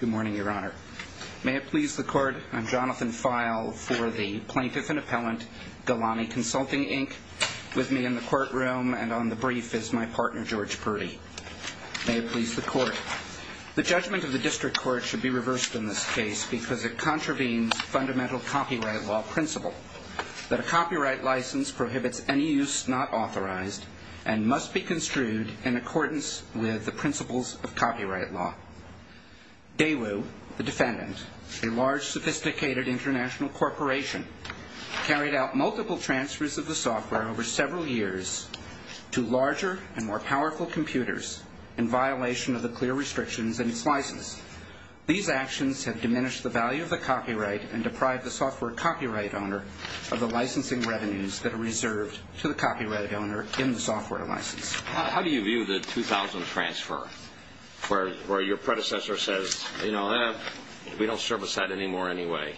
Good morning, Your Honor. May it please the Court, I'm Jonathan Feil for the Plaintiff and Appellant Galani Consulting, Inc. With me in the courtroom and on the brief is my partner, George Purdy. May it please the Court. The judgment of the District Court should be reversed in this case because it contravenes fundamental copyright law principle. That a copyright license prohibits any use not authorized and must be construed in accordance with the principles of copyright law. Daewoo, the defendant, a large sophisticated international corporation, carried out multiple transfers of the software over several years to larger and more powerful computers in violation of the clear restrictions in its license. These actions have diminished the value of the copyright and deprived the software copyright owner of the licensing revenues that are reserved to the copyright owner in the software license. How do you view the 2000 transfer where your predecessor says, you know, we don't service that anymore anyway?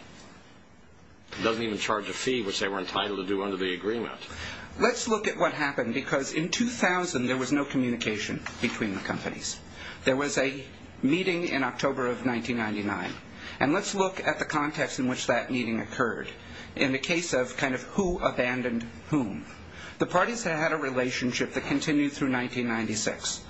It doesn't even charge a fee which they were entitled to do under the agreement. Let's look at what happened because in 2000 there was no communication between the companies. There was a meeting in October of 1999. And let's look at the context in which that meeting occurred in the case of kind of who abandoned whom. The parties had a relationship that continued through 1996.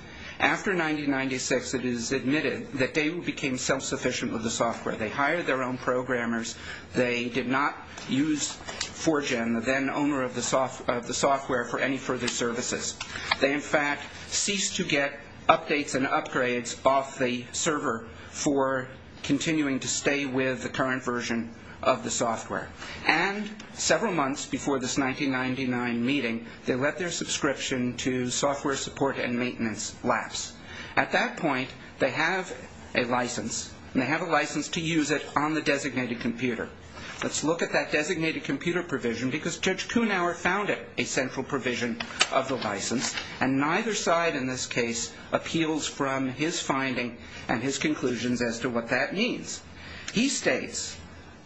After 1996 it is admitted that Daewoo became self-sufficient with the software. They hired their own programmers. They did not use 4Gen, the then owner of the software, for any further services. They in fact ceased to get updates and upgrades off the server for continuing to stay with the current version of the software. And several months before this 1999 meeting they let their subscription to software support and maintenance lapse. At that point they have a license and they have a license to use it on the designated computer. Let's look at that designated computer provision because Judge Kuhnauer founded a central provision of the license. And neither side in this case appeals from his finding and his conclusions as to what that means. He states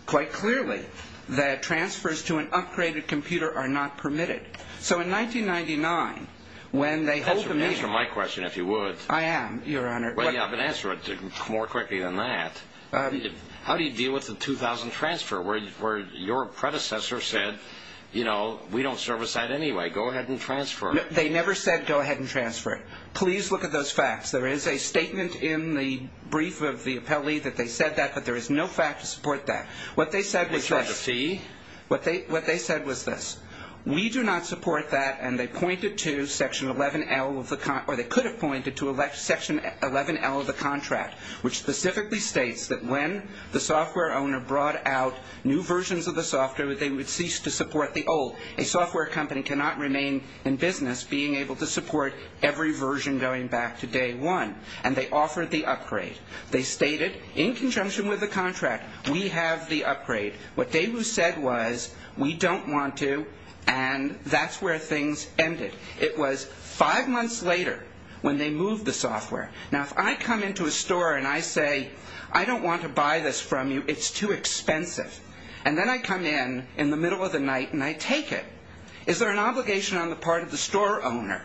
quite clearly that transfers to an upgraded computer are not permitted. So in 1999 when they hold the meeting. Answer my question if you would. I am, Your Honor. Well, yeah, but answer it more quickly than that. How do you deal with the 2000 transfer where your predecessor said, you know, we don't service that anyway. Go ahead and transfer. They never said go ahead and transfer. Please look at those facts. There is a statement in the brief of the appellee that they said that, but there is no fact to support that. What they said was this. What about the fee? What they said was this. We do not support that. And they pointed to Section 11L of the contract, or they could have pointed to Section 11L of the contract, which specifically states that when the software owner brought out new versions of the software, they would cease to support the old. A software company cannot remain in business being able to support every version going back to day one. And they offered the upgrade. They stated in conjunction with the contract, we have the upgrade. What they said was, we don't want to, and that's where things ended. It was five months later when they moved the software. Now, if I come into a store and I say, I don't want to buy this from you, it's too expensive, and then I come in in the middle of the night and I take it, is there an obligation on the part of the store owner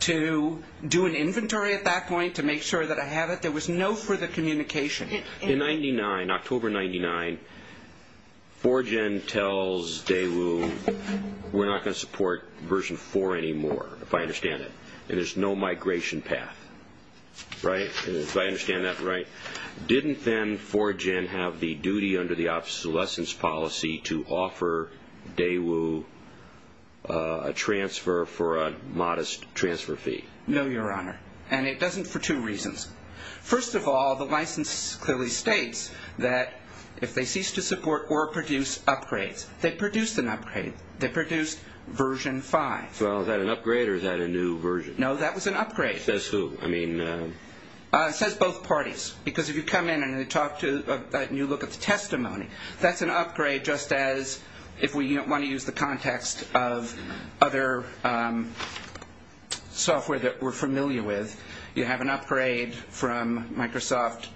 to do an inventory at that point to make sure that I have it? There was no further communication. In October 1999, 4Gen tells Daewoo, we're not going to support version 4 anymore, if I understand it, and there's no migration path, right, if I understand that right. Didn't then 4Gen have the duty under the obsolescence policy to offer Daewoo a transfer for a modest transfer fee? No, Your Honor, and it doesn't for two reasons. First of all, the license clearly states that if they cease to support or produce upgrades, they produced an upgrade. They produced version 5. Well, is that an upgrade or is that a new version? No, that was an upgrade. It says who? I mean... It says both parties, because if you come in and you look at the testimony, that's an upgrade, just as if we want to use the context of other software that we're familiar with, you have an upgrade from Microsoft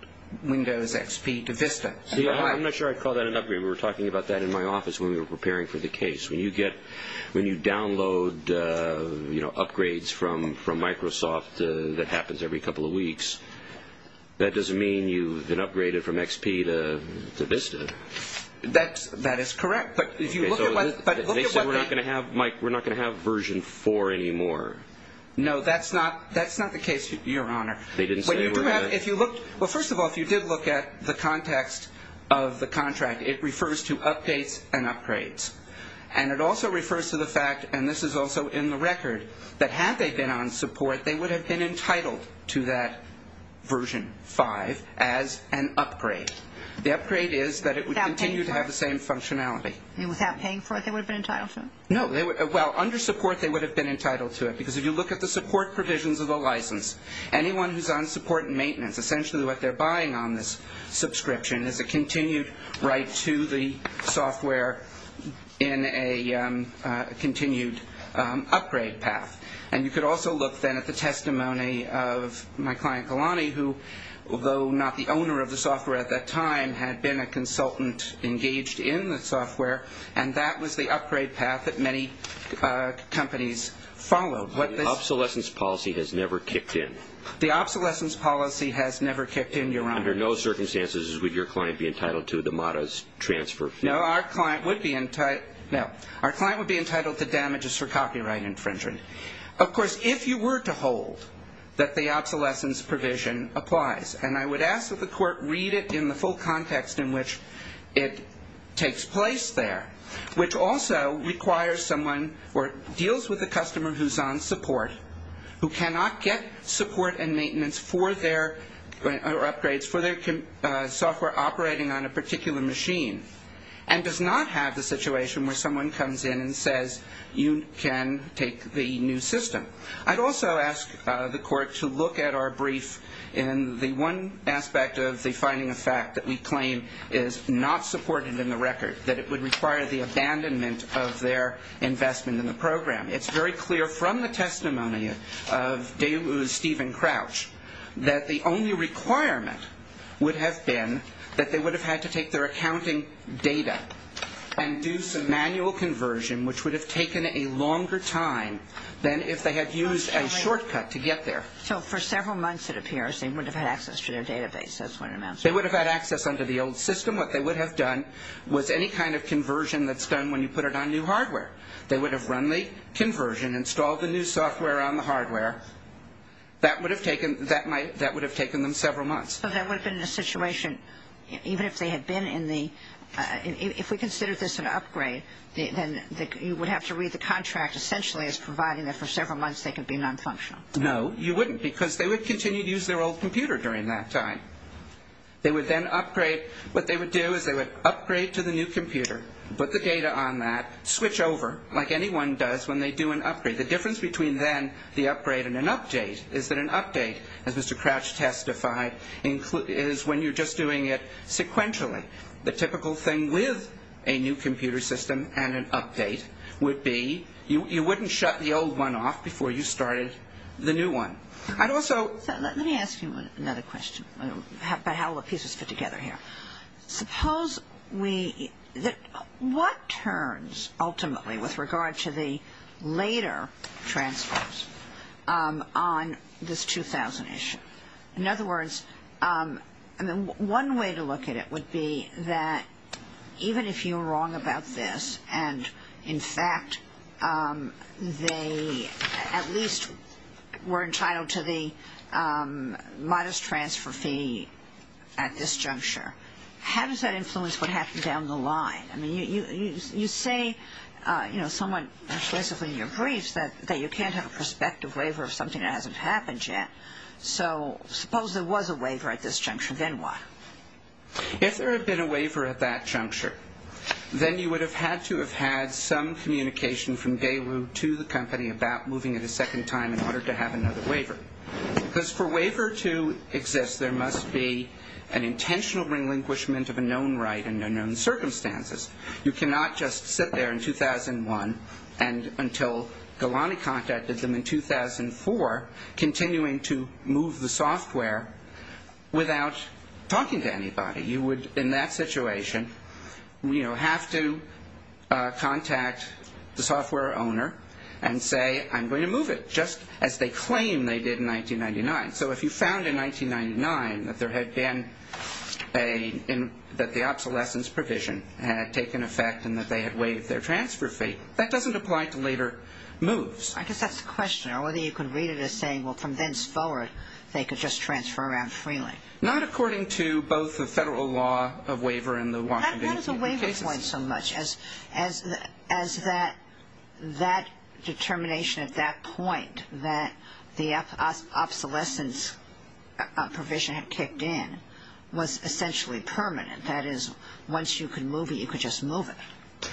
Windows XP to Vista. I'm not sure I'd call that an upgrade. We were talking about that in my office when we were preparing for the case. When you download upgrades from Microsoft that happens every couple of weeks, that doesn't mean you've been upgraded from XP to Vista. That is correct, but if you look at what... They say we're not going to have version 4 anymore. No, that's not the case, Your Honor. They didn't say we're not... Well, first of all, if you did look at the context of the contract, it refers to updates and upgrades, and it also refers to the fact, and this is also in the record, that had they been on support, they would have been entitled to that version 5 as an upgrade. The upgrade is that it would continue to have the same functionality. Without paying for it, they would have been entitled to it? No. Well, under support they would have been entitled to it, because if you look at the support provisions of the license, anyone who's on support and maintenance, essentially what they're buying on this subscription, is a continued right to the software in a continued upgrade path. And you could also look then at the testimony of my client Kalani, who, although not the owner of the software at that time, had been a consultant engaged in the software, and that was the upgrade path that many companies followed. The obsolescence policy has never kicked in? The obsolescence policy has never kicked in, Your Honor. Under no circumstances would your client be entitled to the MATA's transfer fee? No, our client would be entitled to damages for copyright infringement. Of course, if you were to hold that the obsolescence provision applies, and I would ask that the court read it in the full context in which it takes place there, which also requires someone or deals with a customer who's on support, who cannot get support and maintenance for their upgrades, for their software operating on a particular machine, and does not have the situation where someone comes in and says, you can take the new system. I'd also ask the court to look at our brief in the one aspect of the finding of fact that we claim is not supported in the record, that it would require the abandonment of their investment in the program. It's very clear from the testimony of DeLu's Stephen Crouch that the only requirement would have been that they would have had to take their accounting data and do some manual conversion, which would have taken a longer time than if they had used a shortcut to get there. So for several months, it appears, they would have had access to their database. That's what it amounts to. They would have had access under the old system. What they would have done was any kind of conversion that's done when you put it on new hardware. They would have run the conversion, installed the new software on the hardware. That would have taken them several months. So that would have been the situation, even if they had been in the ‑‑ if we consider this an upgrade, then you would have to read the contract essentially as providing that for several months they could be nonfunctional. No, you wouldn't, because they would continue to use their old computer during that time. They would then upgrade. What they would do is they would upgrade to the new computer, put the data on that, switch over like anyone does when they do an upgrade. The difference between then the upgrade and an update is that an update, as Mr. Crouch testified, is when you're just doing it sequentially. The typical thing with a new computer system and an update would be you wouldn't shut the old one off before you started the new one. I'd also ‑‑ Let me ask you another question about how all the pieces fit together here. Suppose we ‑‑ what turns ultimately with regard to the later transfers on this 2000 issue? In other words, one way to look at it would be that even if you're wrong about this and, in fact, they at least were entitled to the modest transfer fee at this juncture, how does that influence what happened down the line? I mean, you say somewhat explicitly in your briefs that you can't have a prospective waiver of something that hasn't happened yet. So suppose there was a waiver at this juncture, then why? If there had been a waiver at that juncture, then you would have had to have had some communication from Daewoo to the company about moving it a second time in order to have another waiver. Because for a waiver to exist, there must be an intentional relinquishment of a known right under known circumstances. You cannot just sit there in 2001 until Galani contacted them in 2004, continuing to move the software without talking to anybody. You would, in that situation, you know, have to contact the software owner and say, I'm going to move it, just as they claim they did in 1999. So if you found in 1999 that there had been a ‑‑ that the obsolescence provision had taken effect and that they had waived their transfer fee, that doesn't apply to later moves. I guess that's the question. Or whether you can read it as saying, well, from thenceforward, they could just transfer around freely. Not according to both the federal law of waiver and the Washington, D.C. cases. How does a waiver point so much as that determination at that point that the obsolescence provision had kicked in was essentially permanent? That is, once you could move it, you could just move it.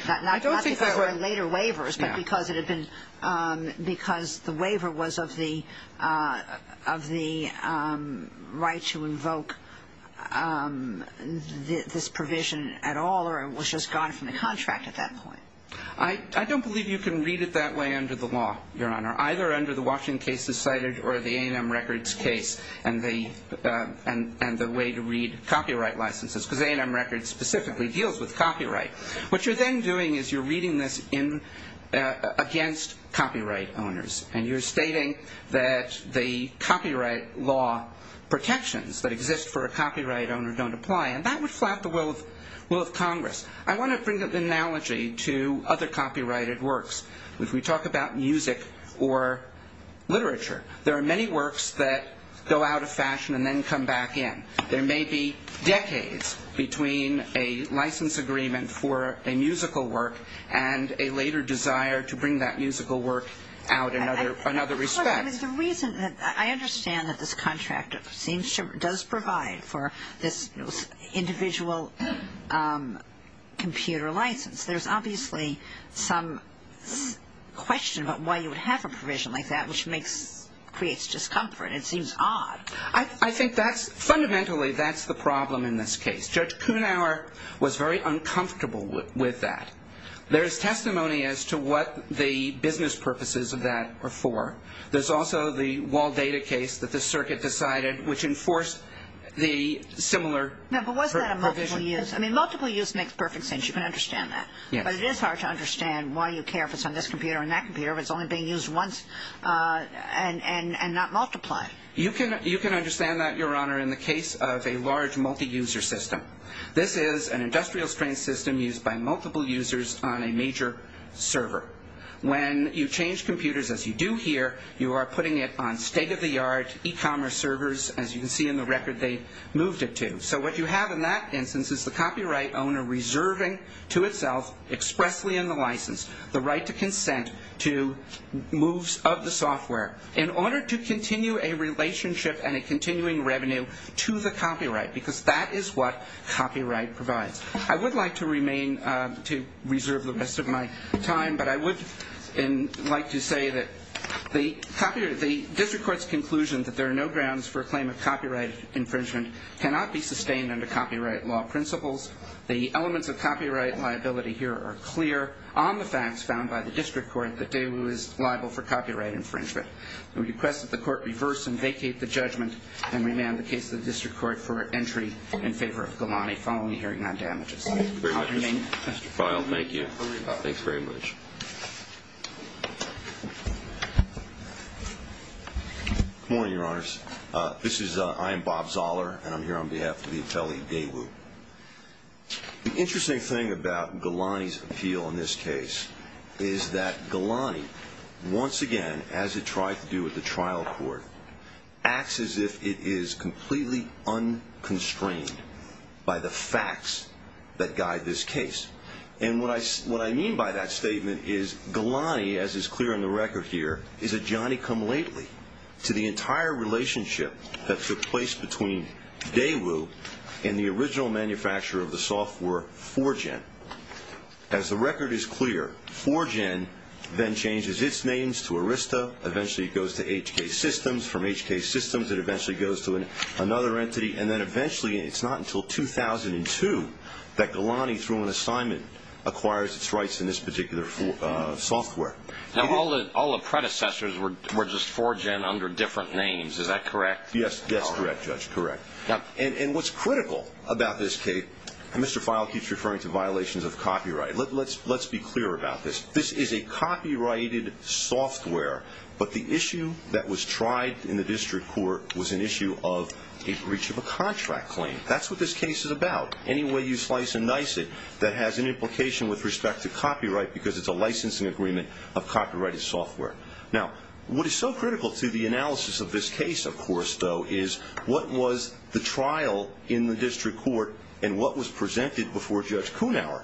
Not because there were later waivers, but because it had been ‑‑ because the waiver was of the right to invoke this provision at all or it was just gone from the contract at that point. I don't believe you can read it that way under the law, Your Honor, either under the Washington cases cited or the A&M Records case and the way to read copyright licenses, because A&M Records specifically deals with copyright, what you're then doing is you're reading this against copyright owners and you're stating that the copyright law protections that exist for a copyright owner don't apply. And that would flap the will of Congress. I want to bring the analogy to other copyrighted works. If we talk about music or literature, there are many works that go out of fashion and then come back in. There may be decades between a license agreement for a musical work and a later desire to bring that musical work out in another respect. The reason that I understand that this contract does provide for this individual computer license, there's obviously some question about why you would have a provision like that which creates discomfort. It seems odd. I think fundamentally that's the problem in this case. Judge Kuhnhauer was very uncomfortable with that. There is testimony as to what the business purposes of that are for. There's also the wall data case that the circuit decided which enforced the similar provision. No, but wasn't that a multiple use? I mean, multiple use makes perfect sense. You can understand that. But it is hard to understand why you care if it's on this computer or that computer if it's only being used once and not multiplied. You can understand that, Your Honor, in the case of a large multi-user system. This is an industrial strain system used by multiple users on a major server. When you change computers, as you do here, you are putting it on state-of-the-art e-commerce servers. As you can see in the record, they moved it to. So what you have in that instance is the copyright owner reserving to itself expressly in the license the right to consent to moves of the software. In order to continue a relationship and a continuing revenue to the copyright because that is what copyright provides. I would like to remain to reserve the rest of my time, but I would like to say that the district court's conclusion that there are no grounds for a claim of copyright infringement cannot be sustained under copyright law principles. The elements of copyright liability here are clear on the facts found by the district court that Daewoo is liable for copyright infringement. We request that the court reverse and vacate the judgment and remand the case to the district court for entry in favor of Ghilani following a hearing on damages. I'll remain. Mr. Feil, thank you. Thanks very much. Good morning, Your Honors. I am Bob Zoller, and I'm here on behalf of the Atelier Daewoo. The interesting thing about Ghilani's appeal in this case is that Ghilani, once again, as it tried to do with the trial court, acts as if it is completely unconstrained by the facts that guide this case. And what I mean by that statement is Ghilani, as is clear in the record here, is a Johnny-come-lately to the entire relationship that took place between Daewoo and the original manufacturer of the software 4Gen. As the record is clear, 4Gen then changes its names to Arista. Eventually it goes to HK Systems. From HK Systems it eventually goes to another entity. And then eventually, and it's not until 2002, that Ghilani, through an assignment, acquires its rights in this particular software. Now, all the predecessors were just 4Gen under different names. Is that correct? Yes, that's correct, Judge, correct. And what's critical about this case, and Mr. Feil keeps referring to violations of copyright, let's be clear about this, this is a copyrighted software, but the issue that was tried in the district court was an issue of a breach of a contract claim. That's what this case is about. Any way you slice and dice it, that has an implication with respect to copyright because it's a licensing agreement of copyrighted software. Now, what is so critical to the analysis of this case, of course, though, is what was the trial in the district court and what was presented before Judge Kunawer.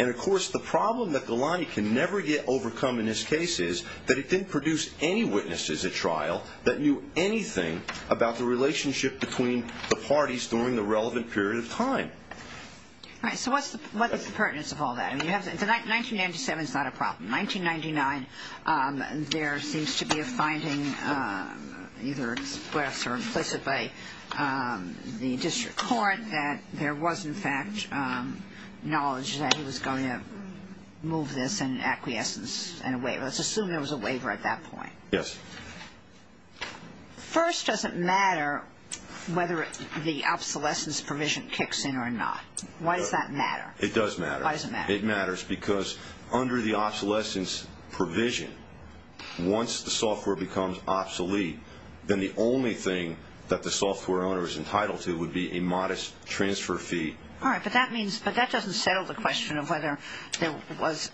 And, of course, the problem that Ghilani can never yet overcome in his case is that he didn't produce any witnesses at trial that knew anything about the relationship between the parties during the relevant period of time. All right, so what's the pertinence of all that? 1997's not a problem. 1999, there seems to be a finding, either expressed or implicit by the district court, that there was, in fact, knowledge that he was going to move this in an acquiescence and a waiver. Let's assume there was a waiver at that point. Yes. First, does it matter whether the obsolescence provision kicks in or not? Why does that matter? It does matter. Why does it matter? It matters because under the obsolescence provision, once the software becomes obsolete, then the only thing that the software owner is entitled to would be a modest transfer fee. All right, but that means, but that doesn't settle the question of whether there was,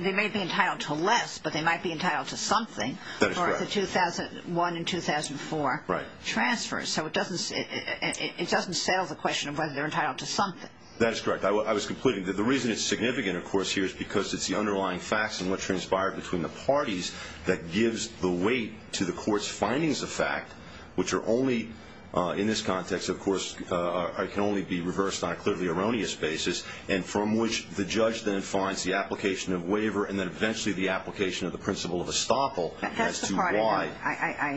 they may be entitled to less, but they might be entitled to something for the 2001 and 2004 transfers. So it doesn't settle the question of whether they're entitled to something. That is correct. I was concluding that the reason it's significant, of course, here is because it's the underlying facts and what transpired between the parties that gives the weight to the court's findings of fact, which are only, in this context, of course, can only be reversed on a clearly erroneous basis, and from which the judge then finds the application of waiver and then eventually the application of the principle of estoppel as to why.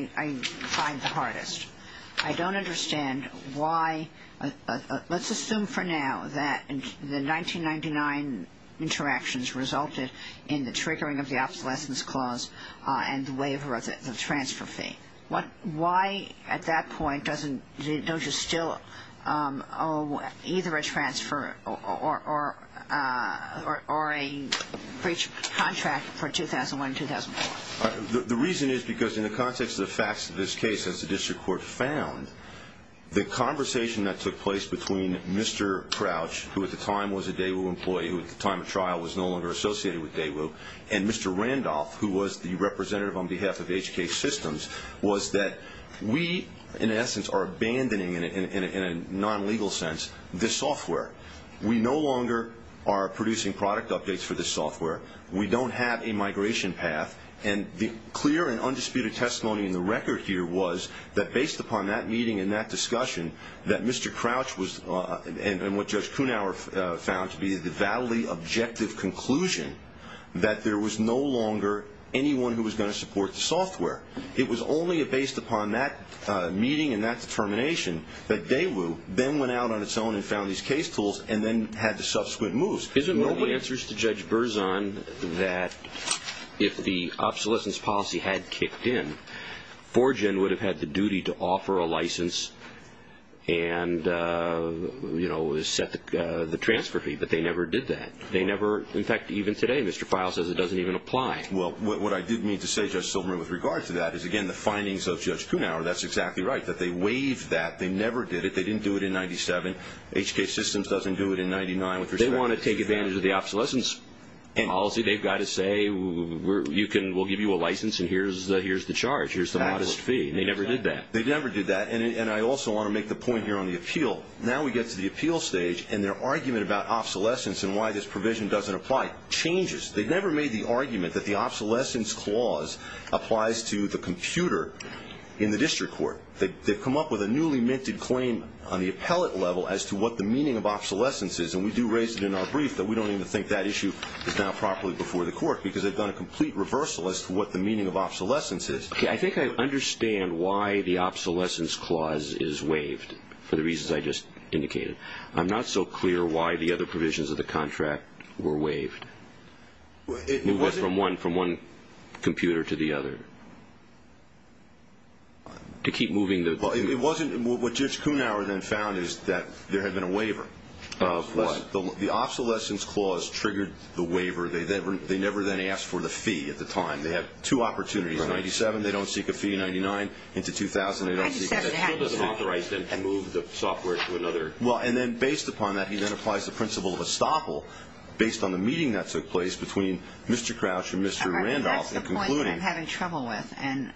That's the part I find the hardest. I don't understand why. Let's assume for now that the 1999 interactions resulted in the triggering of the obsolescence clause and the waiver of the transfer fee. Why at that point don't you still owe either a transfer or a breach contract for 2001 and 2004? The reason is because in the context of the facts of this case, as the district court found, the conversation that took place between Mr. Crouch, who at the time was a Daewoo employee, who at the time of trial was no longer associated with Daewoo, and Mr. Randolph, who was the representative on behalf of HK Systems, was that we, in essence, are abandoning, in a non-legal sense, this software. We no longer are producing product updates for this software. We don't have a migration path. And the clear and undisputed testimony in the record here was that, based upon that meeting and that discussion, that Mr. Crouch was, and what Judge Kunauer found to be the validly objective conclusion, that there was no longer anyone who was going to support the software. It was only based upon that meeting and that determination that Daewoo then went out on its own and found these case tools and then had the subsequent moves. Isn't one of the answers to Judge Berzon that, if the obsolescence policy had kicked in, 4Gen would have had the duty to offer a license and, you know, set the transfer fee, but they never did that. They never, in fact, even today, Mr. Feil says it doesn't even apply. Well, what I did mean to say, Judge Silberman, with regard to that, is, again, the findings of Judge Kunauer, that's exactly right, that they waived that. They never did it. They didn't do it in 97. HK Systems doesn't do it in 99. They want to take advantage of the obsolescence policy. They've got to say, we'll give you a license and here's the charge, here's the modest fee. They never did that. They never did that, and I also want to make the point here on the appeal. Now we get to the appeal stage, and their argument about obsolescence and why this provision doesn't apply changes. They've never made the argument that the obsolescence clause applies to the computer in the district court. They've come up with a newly minted claim on the appellate level as to what the meaning of obsolescence is, and we do raise it in our brief that we don't even think that issue is now properly before the court because they've done a complete reversal as to what the meaning of obsolescence is. Okay. I think I understand why the obsolescence clause is waived for the reasons I just indicated. I'm not so clear why the other provisions of the contract were waived. It was from one computer to the other. To keep moving the... Well, it wasn't. What Judge Kuhnhauer then found is that there had been a waiver. Of what? The obsolescence clause triggered the waiver. They never then asked for the fee at the time. They had two opportunities, 97, they don't seek a fee, 99, into 2000, they don't seek a fee. 97 happens. It still doesn't authorize them to move the software to another... Well, and then based upon that, he then applies the principle of estoppel based on the meeting that took place between Mr. Crouch and Mr. Randolph in concluding... All right, that's the point that I'm having trouble with, and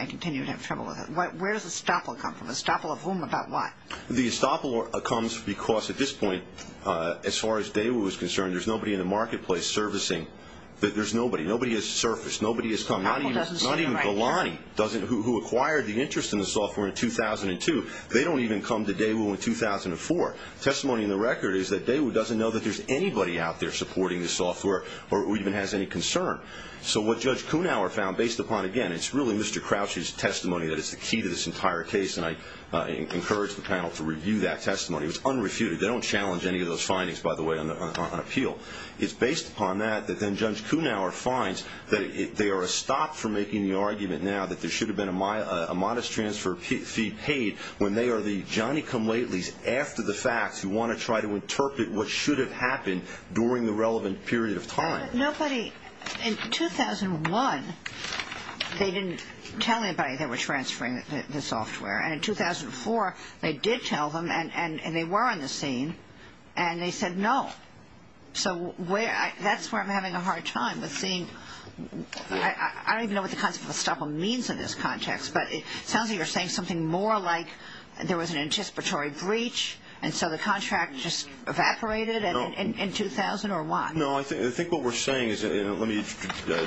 I continue to have trouble with it. Where does estoppel come from? Estoppel of whom, about what? The estoppel comes because at this point, as far as Daewoo is concerned, there's nobody in the marketplace servicing. There's nobody. Nobody has surfaced. Nobody has come. Not even Golani, who acquired the interest in the software in 2002. They don't even come to Daewoo in 2004. Testimony in the record is that Daewoo doesn't know that there's anybody out there supporting the software or who even has any concern. So what Judge Kuhnhauer found, based upon, again, it's really Mr. Crouch's testimony that is the key to this entire case, and I encourage the panel to review that testimony. It was unrefuted. They don't challenge any of those findings, by the way, on appeal. It's based upon that that then Judge Kuhnhauer finds that they are a stop for making the argument now that there should have been a modest transfer fee paid when they are the Johnny-come-latelys after the facts who want to try to interpret what should have happened during the relevant period of time. But nobody, in 2001, they didn't tell anybody they were transferring the software. And in 2004, they did tell them, and they were on the scene, and they said no. So that's where I'm having a hard time with seeing. I don't even know what the concept of a stop-all means in this context, but it sounds like you're saying something more like there was an anticipatory breach and so the contract just evaporated in 2000 or what? No, I think what we're saying is, and let me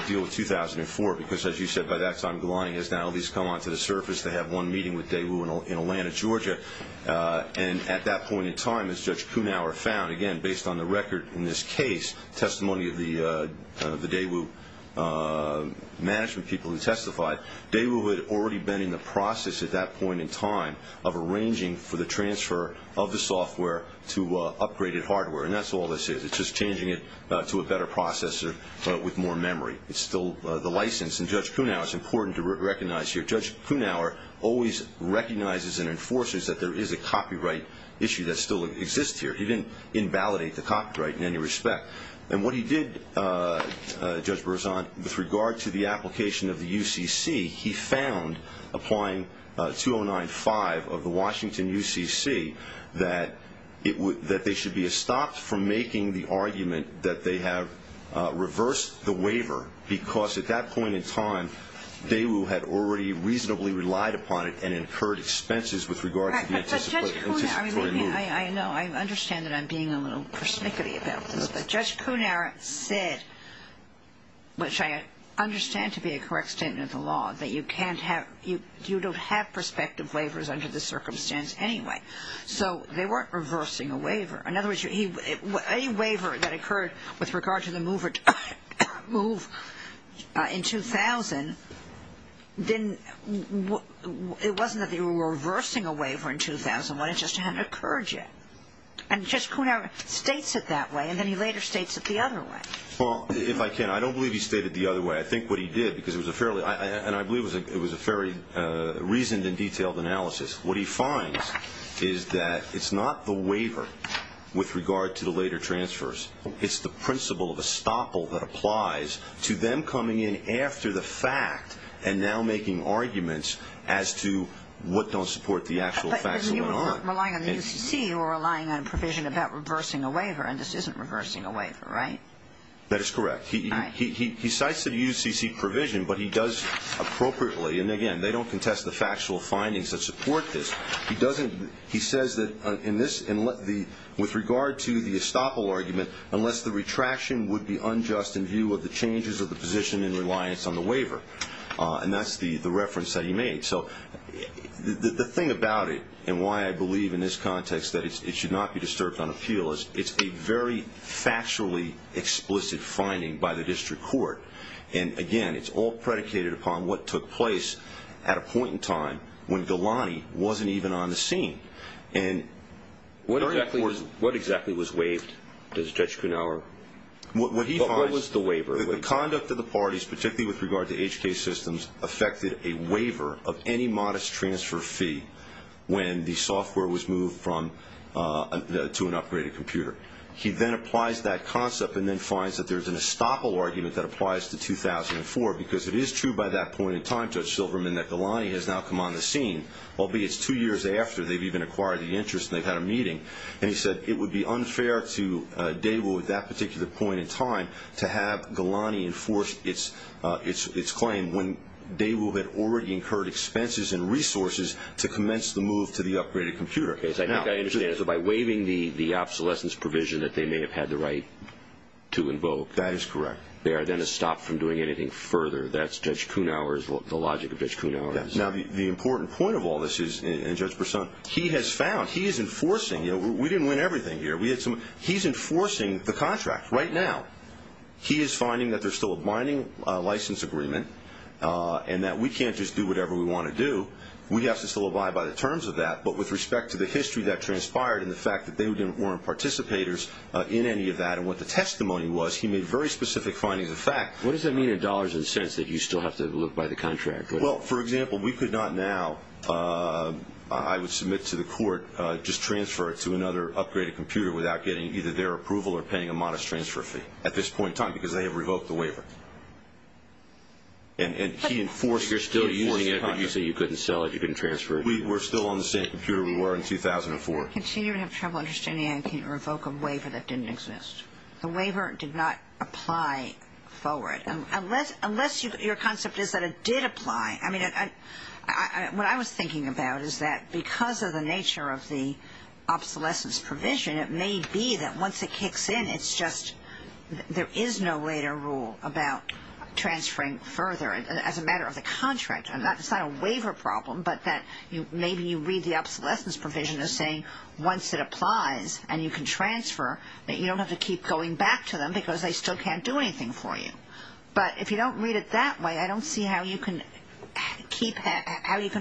deal with 2004, because as you said, by that time, Golani has now at least come onto the surface. They have one meeting with Daewoo in Atlanta, Georgia, and at that point in time, as Judge Kuhnhauer found, again, based on the record in this case, testimony of the Daewoo management people who testified, Daewoo had already been in the process at that point in time of arranging for the transfer of the software to upgraded hardware, and that's all this is. It's just changing it to a better processor with more memory. It's still the license, and Judge Kuhnhauer, it's important to recognize here, Judge Kuhnhauer always recognizes and enforces that there is a copyright issue that still exists here. He didn't invalidate the copyright in any respect. And what he did, Judge Berzon, with regard to the application of the UCC, he found, applying 2095 of the Washington UCC, that they should be stopped from making the argument that they have reversed the waiver, because at that point in time, Daewoo had already reasonably relied upon it and incurred expenses with regard to the anticipatory move. I know, I understand that I'm being a little persnickety about this, but Judge Kuhnhauer said, which I understand to be a correct statement of the law, that you don't have prospective waivers under this circumstance anyway. So they weren't reversing a waiver. In other words, any waiver that occurred with regard to the move in 2000, it wasn't that they were reversing a waiver in 2001, it just hadn't occurred yet. And Judge Kuhnhauer states it that way, and then he later states it the other way. Well, if I can, I don't believe he stated it the other way. I think what he did, because it was a fairly reasoned and detailed analysis, what he finds is that it's not the waiver with regard to the later transfers. It's the principle of estoppel that applies to them coming in after the fact and now making arguments as to what don't support the actual facts of the law. So we're relying on the UCC or relying on a provision about reversing a waiver, and this isn't reversing a waiver, right? That is correct. He cites the UCC provision, but he does appropriately, and again, they don't contest the factual findings that support this. He says that with regard to the estoppel argument, unless the retraction would be unjust in view of the changes of the position in reliance on the waiver. And that's the reference that he made. So the thing about it and why I believe in this context that it should not be disturbed on appeal is it's a very factually explicit finding by the district court, and again, it's all predicated upon what took place at a point in time when Galani wasn't even on the scene. What exactly was waived, Judge Kuhnhauer? What he finds, the conduct of the parties, particularly with regard to HK systems, affected a waiver of any modest transfer fee when the software was moved to an upgraded computer. He then applies that concept and then finds that there's an estoppel argument that applies to 2004 because it is true by that point in time, Judge Silverman, that Galani has now come on the scene, albeit it's two years after they've even acquired the interest and they've had a meeting, and he said it would be unfair to Daigle at that particular point in time to have Galani enforce its claim when Daigle had already incurred expenses and resources to commence the move to the upgraded computer. I think I understand. So by waiving the obsolescence provision that they may have had the right to invoke. That is correct. They are then estopped from doing anything further. That's Judge Kuhnhauer's, the logic of Judge Kuhnhauer. Now, the important point of all this is, and Judge Brisson, he has found, he is enforcing. We didn't win everything here. He's enforcing the contract right now. He is finding that there's still a binding license agreement and that we can't just do whatever we want to do. We have to still abide by the terms of that, but with respect to the history that transpired and the fact that they weren't participators in any of that and what the testimony was, he made very specific findings of fact. What does that mean in dollars and cents that you still have to live by the contract? Well, for example, we could not now, I would submit to the court, just transfer it to another upgraded computer without getting either their approval or paying a modest transfer fee at this point in time because they have revoked the waiver. And he enforced the contract. You're still using it, but you say you couldn't sell it, you couldn't transfer it. We're still on the same computer we were in 2004. I continue to have trouble understanding how you can revoke a waiver that didn't exist. The waiver did not apply forward. Unless your concept is that it did apply. I mean, what I was thinking about is that because of the nature of the obsolescence provision, it may be that once it kicks in, it's just there is no later rule about transferring further. As a matter of the contract, it's not a waiver problem, but that maybe you read the obsolescence provision as saying once it applies and you can transfer, that you don't have to keep going back to them because they still can't do anything for you. But if you don't read it that way, I don't see how you can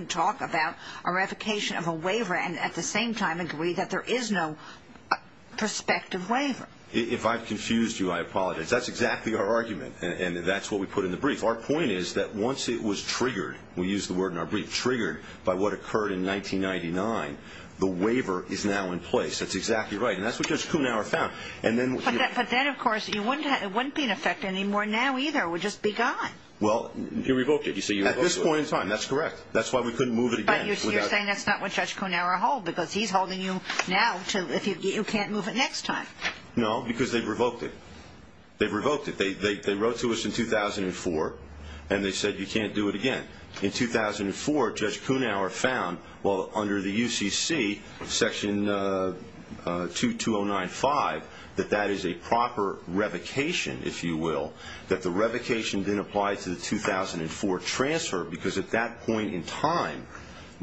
talk about a revocation of a waiver and at the same time agree that there is no prospective waiver. If I've confused you, I apologize. That's exactly our argument, and that's what we put in the brief. Our point is that once it was triggered, we use the word in our brief, triggered by what occurred in 1999, the waiver is now in place. That's exactly right, and that's what Judge Kuhnauer found. But then, of course, it wouldn't be in effect anymore now either. It would just be gone. Well, he revoked it. At this point in time, that's correct. That's why we couldn't move it again. You're saying that's not what Judge Kuhnauer hold, because he's holding you now. You can't move it next time. No, because they revoked it. They revoked it. They wrote to us in 2004, and they said you can't do it again. In 2004, Judge Kuhnauer found, well, under the UCC, Section 22095, that that is a proper revocation, if you will, that the revocation didn't apply to the 2004 transfer because at that point in time,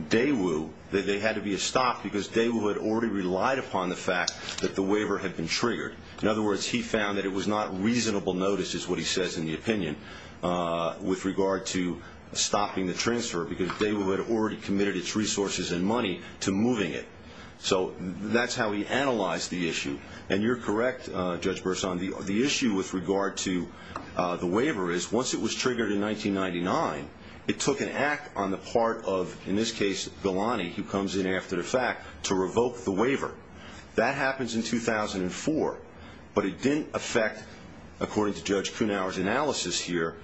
they had to be stopped because Daewoo had already relied upon the fact that the waiver had been triggered. In other words, he found that it was not reasonable notice, is what he says in the opinion, with regard to stopping the transfer because Daewoo had already committed its resources and money to moving it. So that's how he analyzed the issue. And you're correct, Judge Burson. The issue with regard to the waiver is once it was triggered in 1999, it took an act on the part of, in this case, Galani, who comes in after the fact, to revoke the waiver. That happens in 2004, but it didn't affect, according to Judge Kuhnauer's analysis here,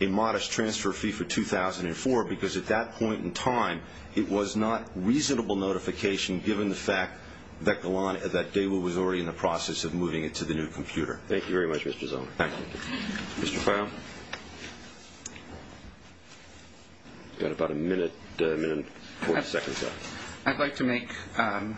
a modest transfer fee for 2004 because at that point in time, it was not reasonable notification given the fact that Daewoo was already in the process of moving it to the new computer. Thank you very much, Mr. Zoner. Thank you. Mr. Clown? You've got about a minute and 40 seconds left. I'd like to make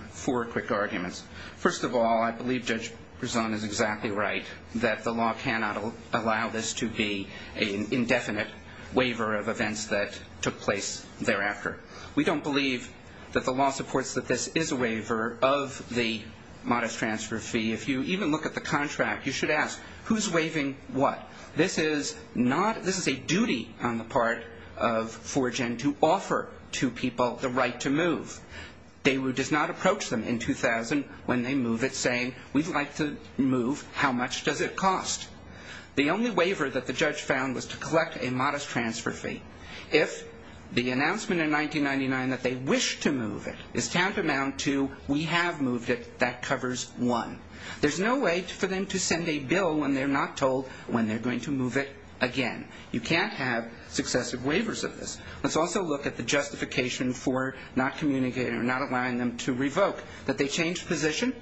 four quick arguments. First of all, I believe Judge Burson is exactly right, that the law cannot allow this to be an indefinite waiver of events that took place thereafter. We don't believe that the law supports that this is a waiver of the modest transfer fee. If you even look at the contract, you should ask, who's waiving what? This is a duty on the part of 4Gen to offer to people the right to move. Daewoo does not approach them in 2000 when they move it, saying, we'd like to move. How much does it cost? The only waiver that the judge found was to collect a modest transfer fee. If the announcement in 1999 that they wish to move it is tantamount to we have moved it, that covers one. There's no way for them to send a bill when they're not told when they're going to move it again. You can't have successive waivers of this. Let's also look at the justification for not allowing them to revoke, that they change position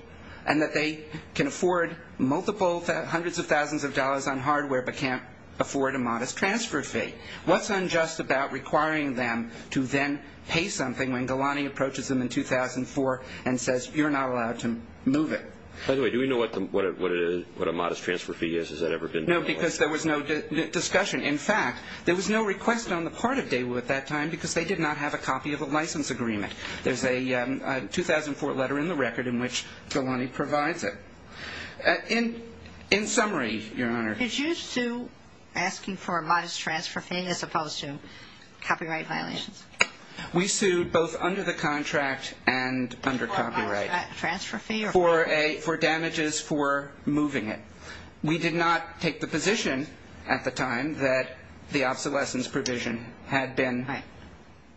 and that they can afford hundreds of thousands of dollars on hardware but can't afford a modest transfer fee. What's unjust about requiring them to then pay something when Galani approaches them in 2004 and says you're not allowed to move it? By the way, do we know what a modest transfer fee is? No, because there was no discussion. In fact, there was no request on the part of Daewoo at that time because they did not have a copy of a license agreement. There's a 2004 letter in the record in which Galani provides it. In summary, Your Honor. Did you sue asking for a modest transfer fee as opposed to copyright violations? We sued both under the contract and under copyright. For a transfer fee? For damages for moving it. We did not take the position at the time that the obsolescence provision had been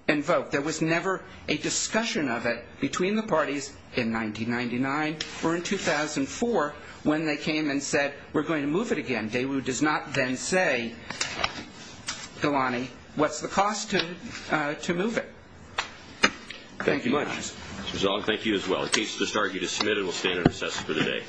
invoked. There was never a discussion of it between the parties in 1999 or in 2004 when they came and said we're going to move it again. Daewoo does not then say, Galani, what's the cost to move it. Thank you, Your Honor. Mr. Zong, thank you as well. The case is disbarred. You dismissed and will stand on assessment for the day.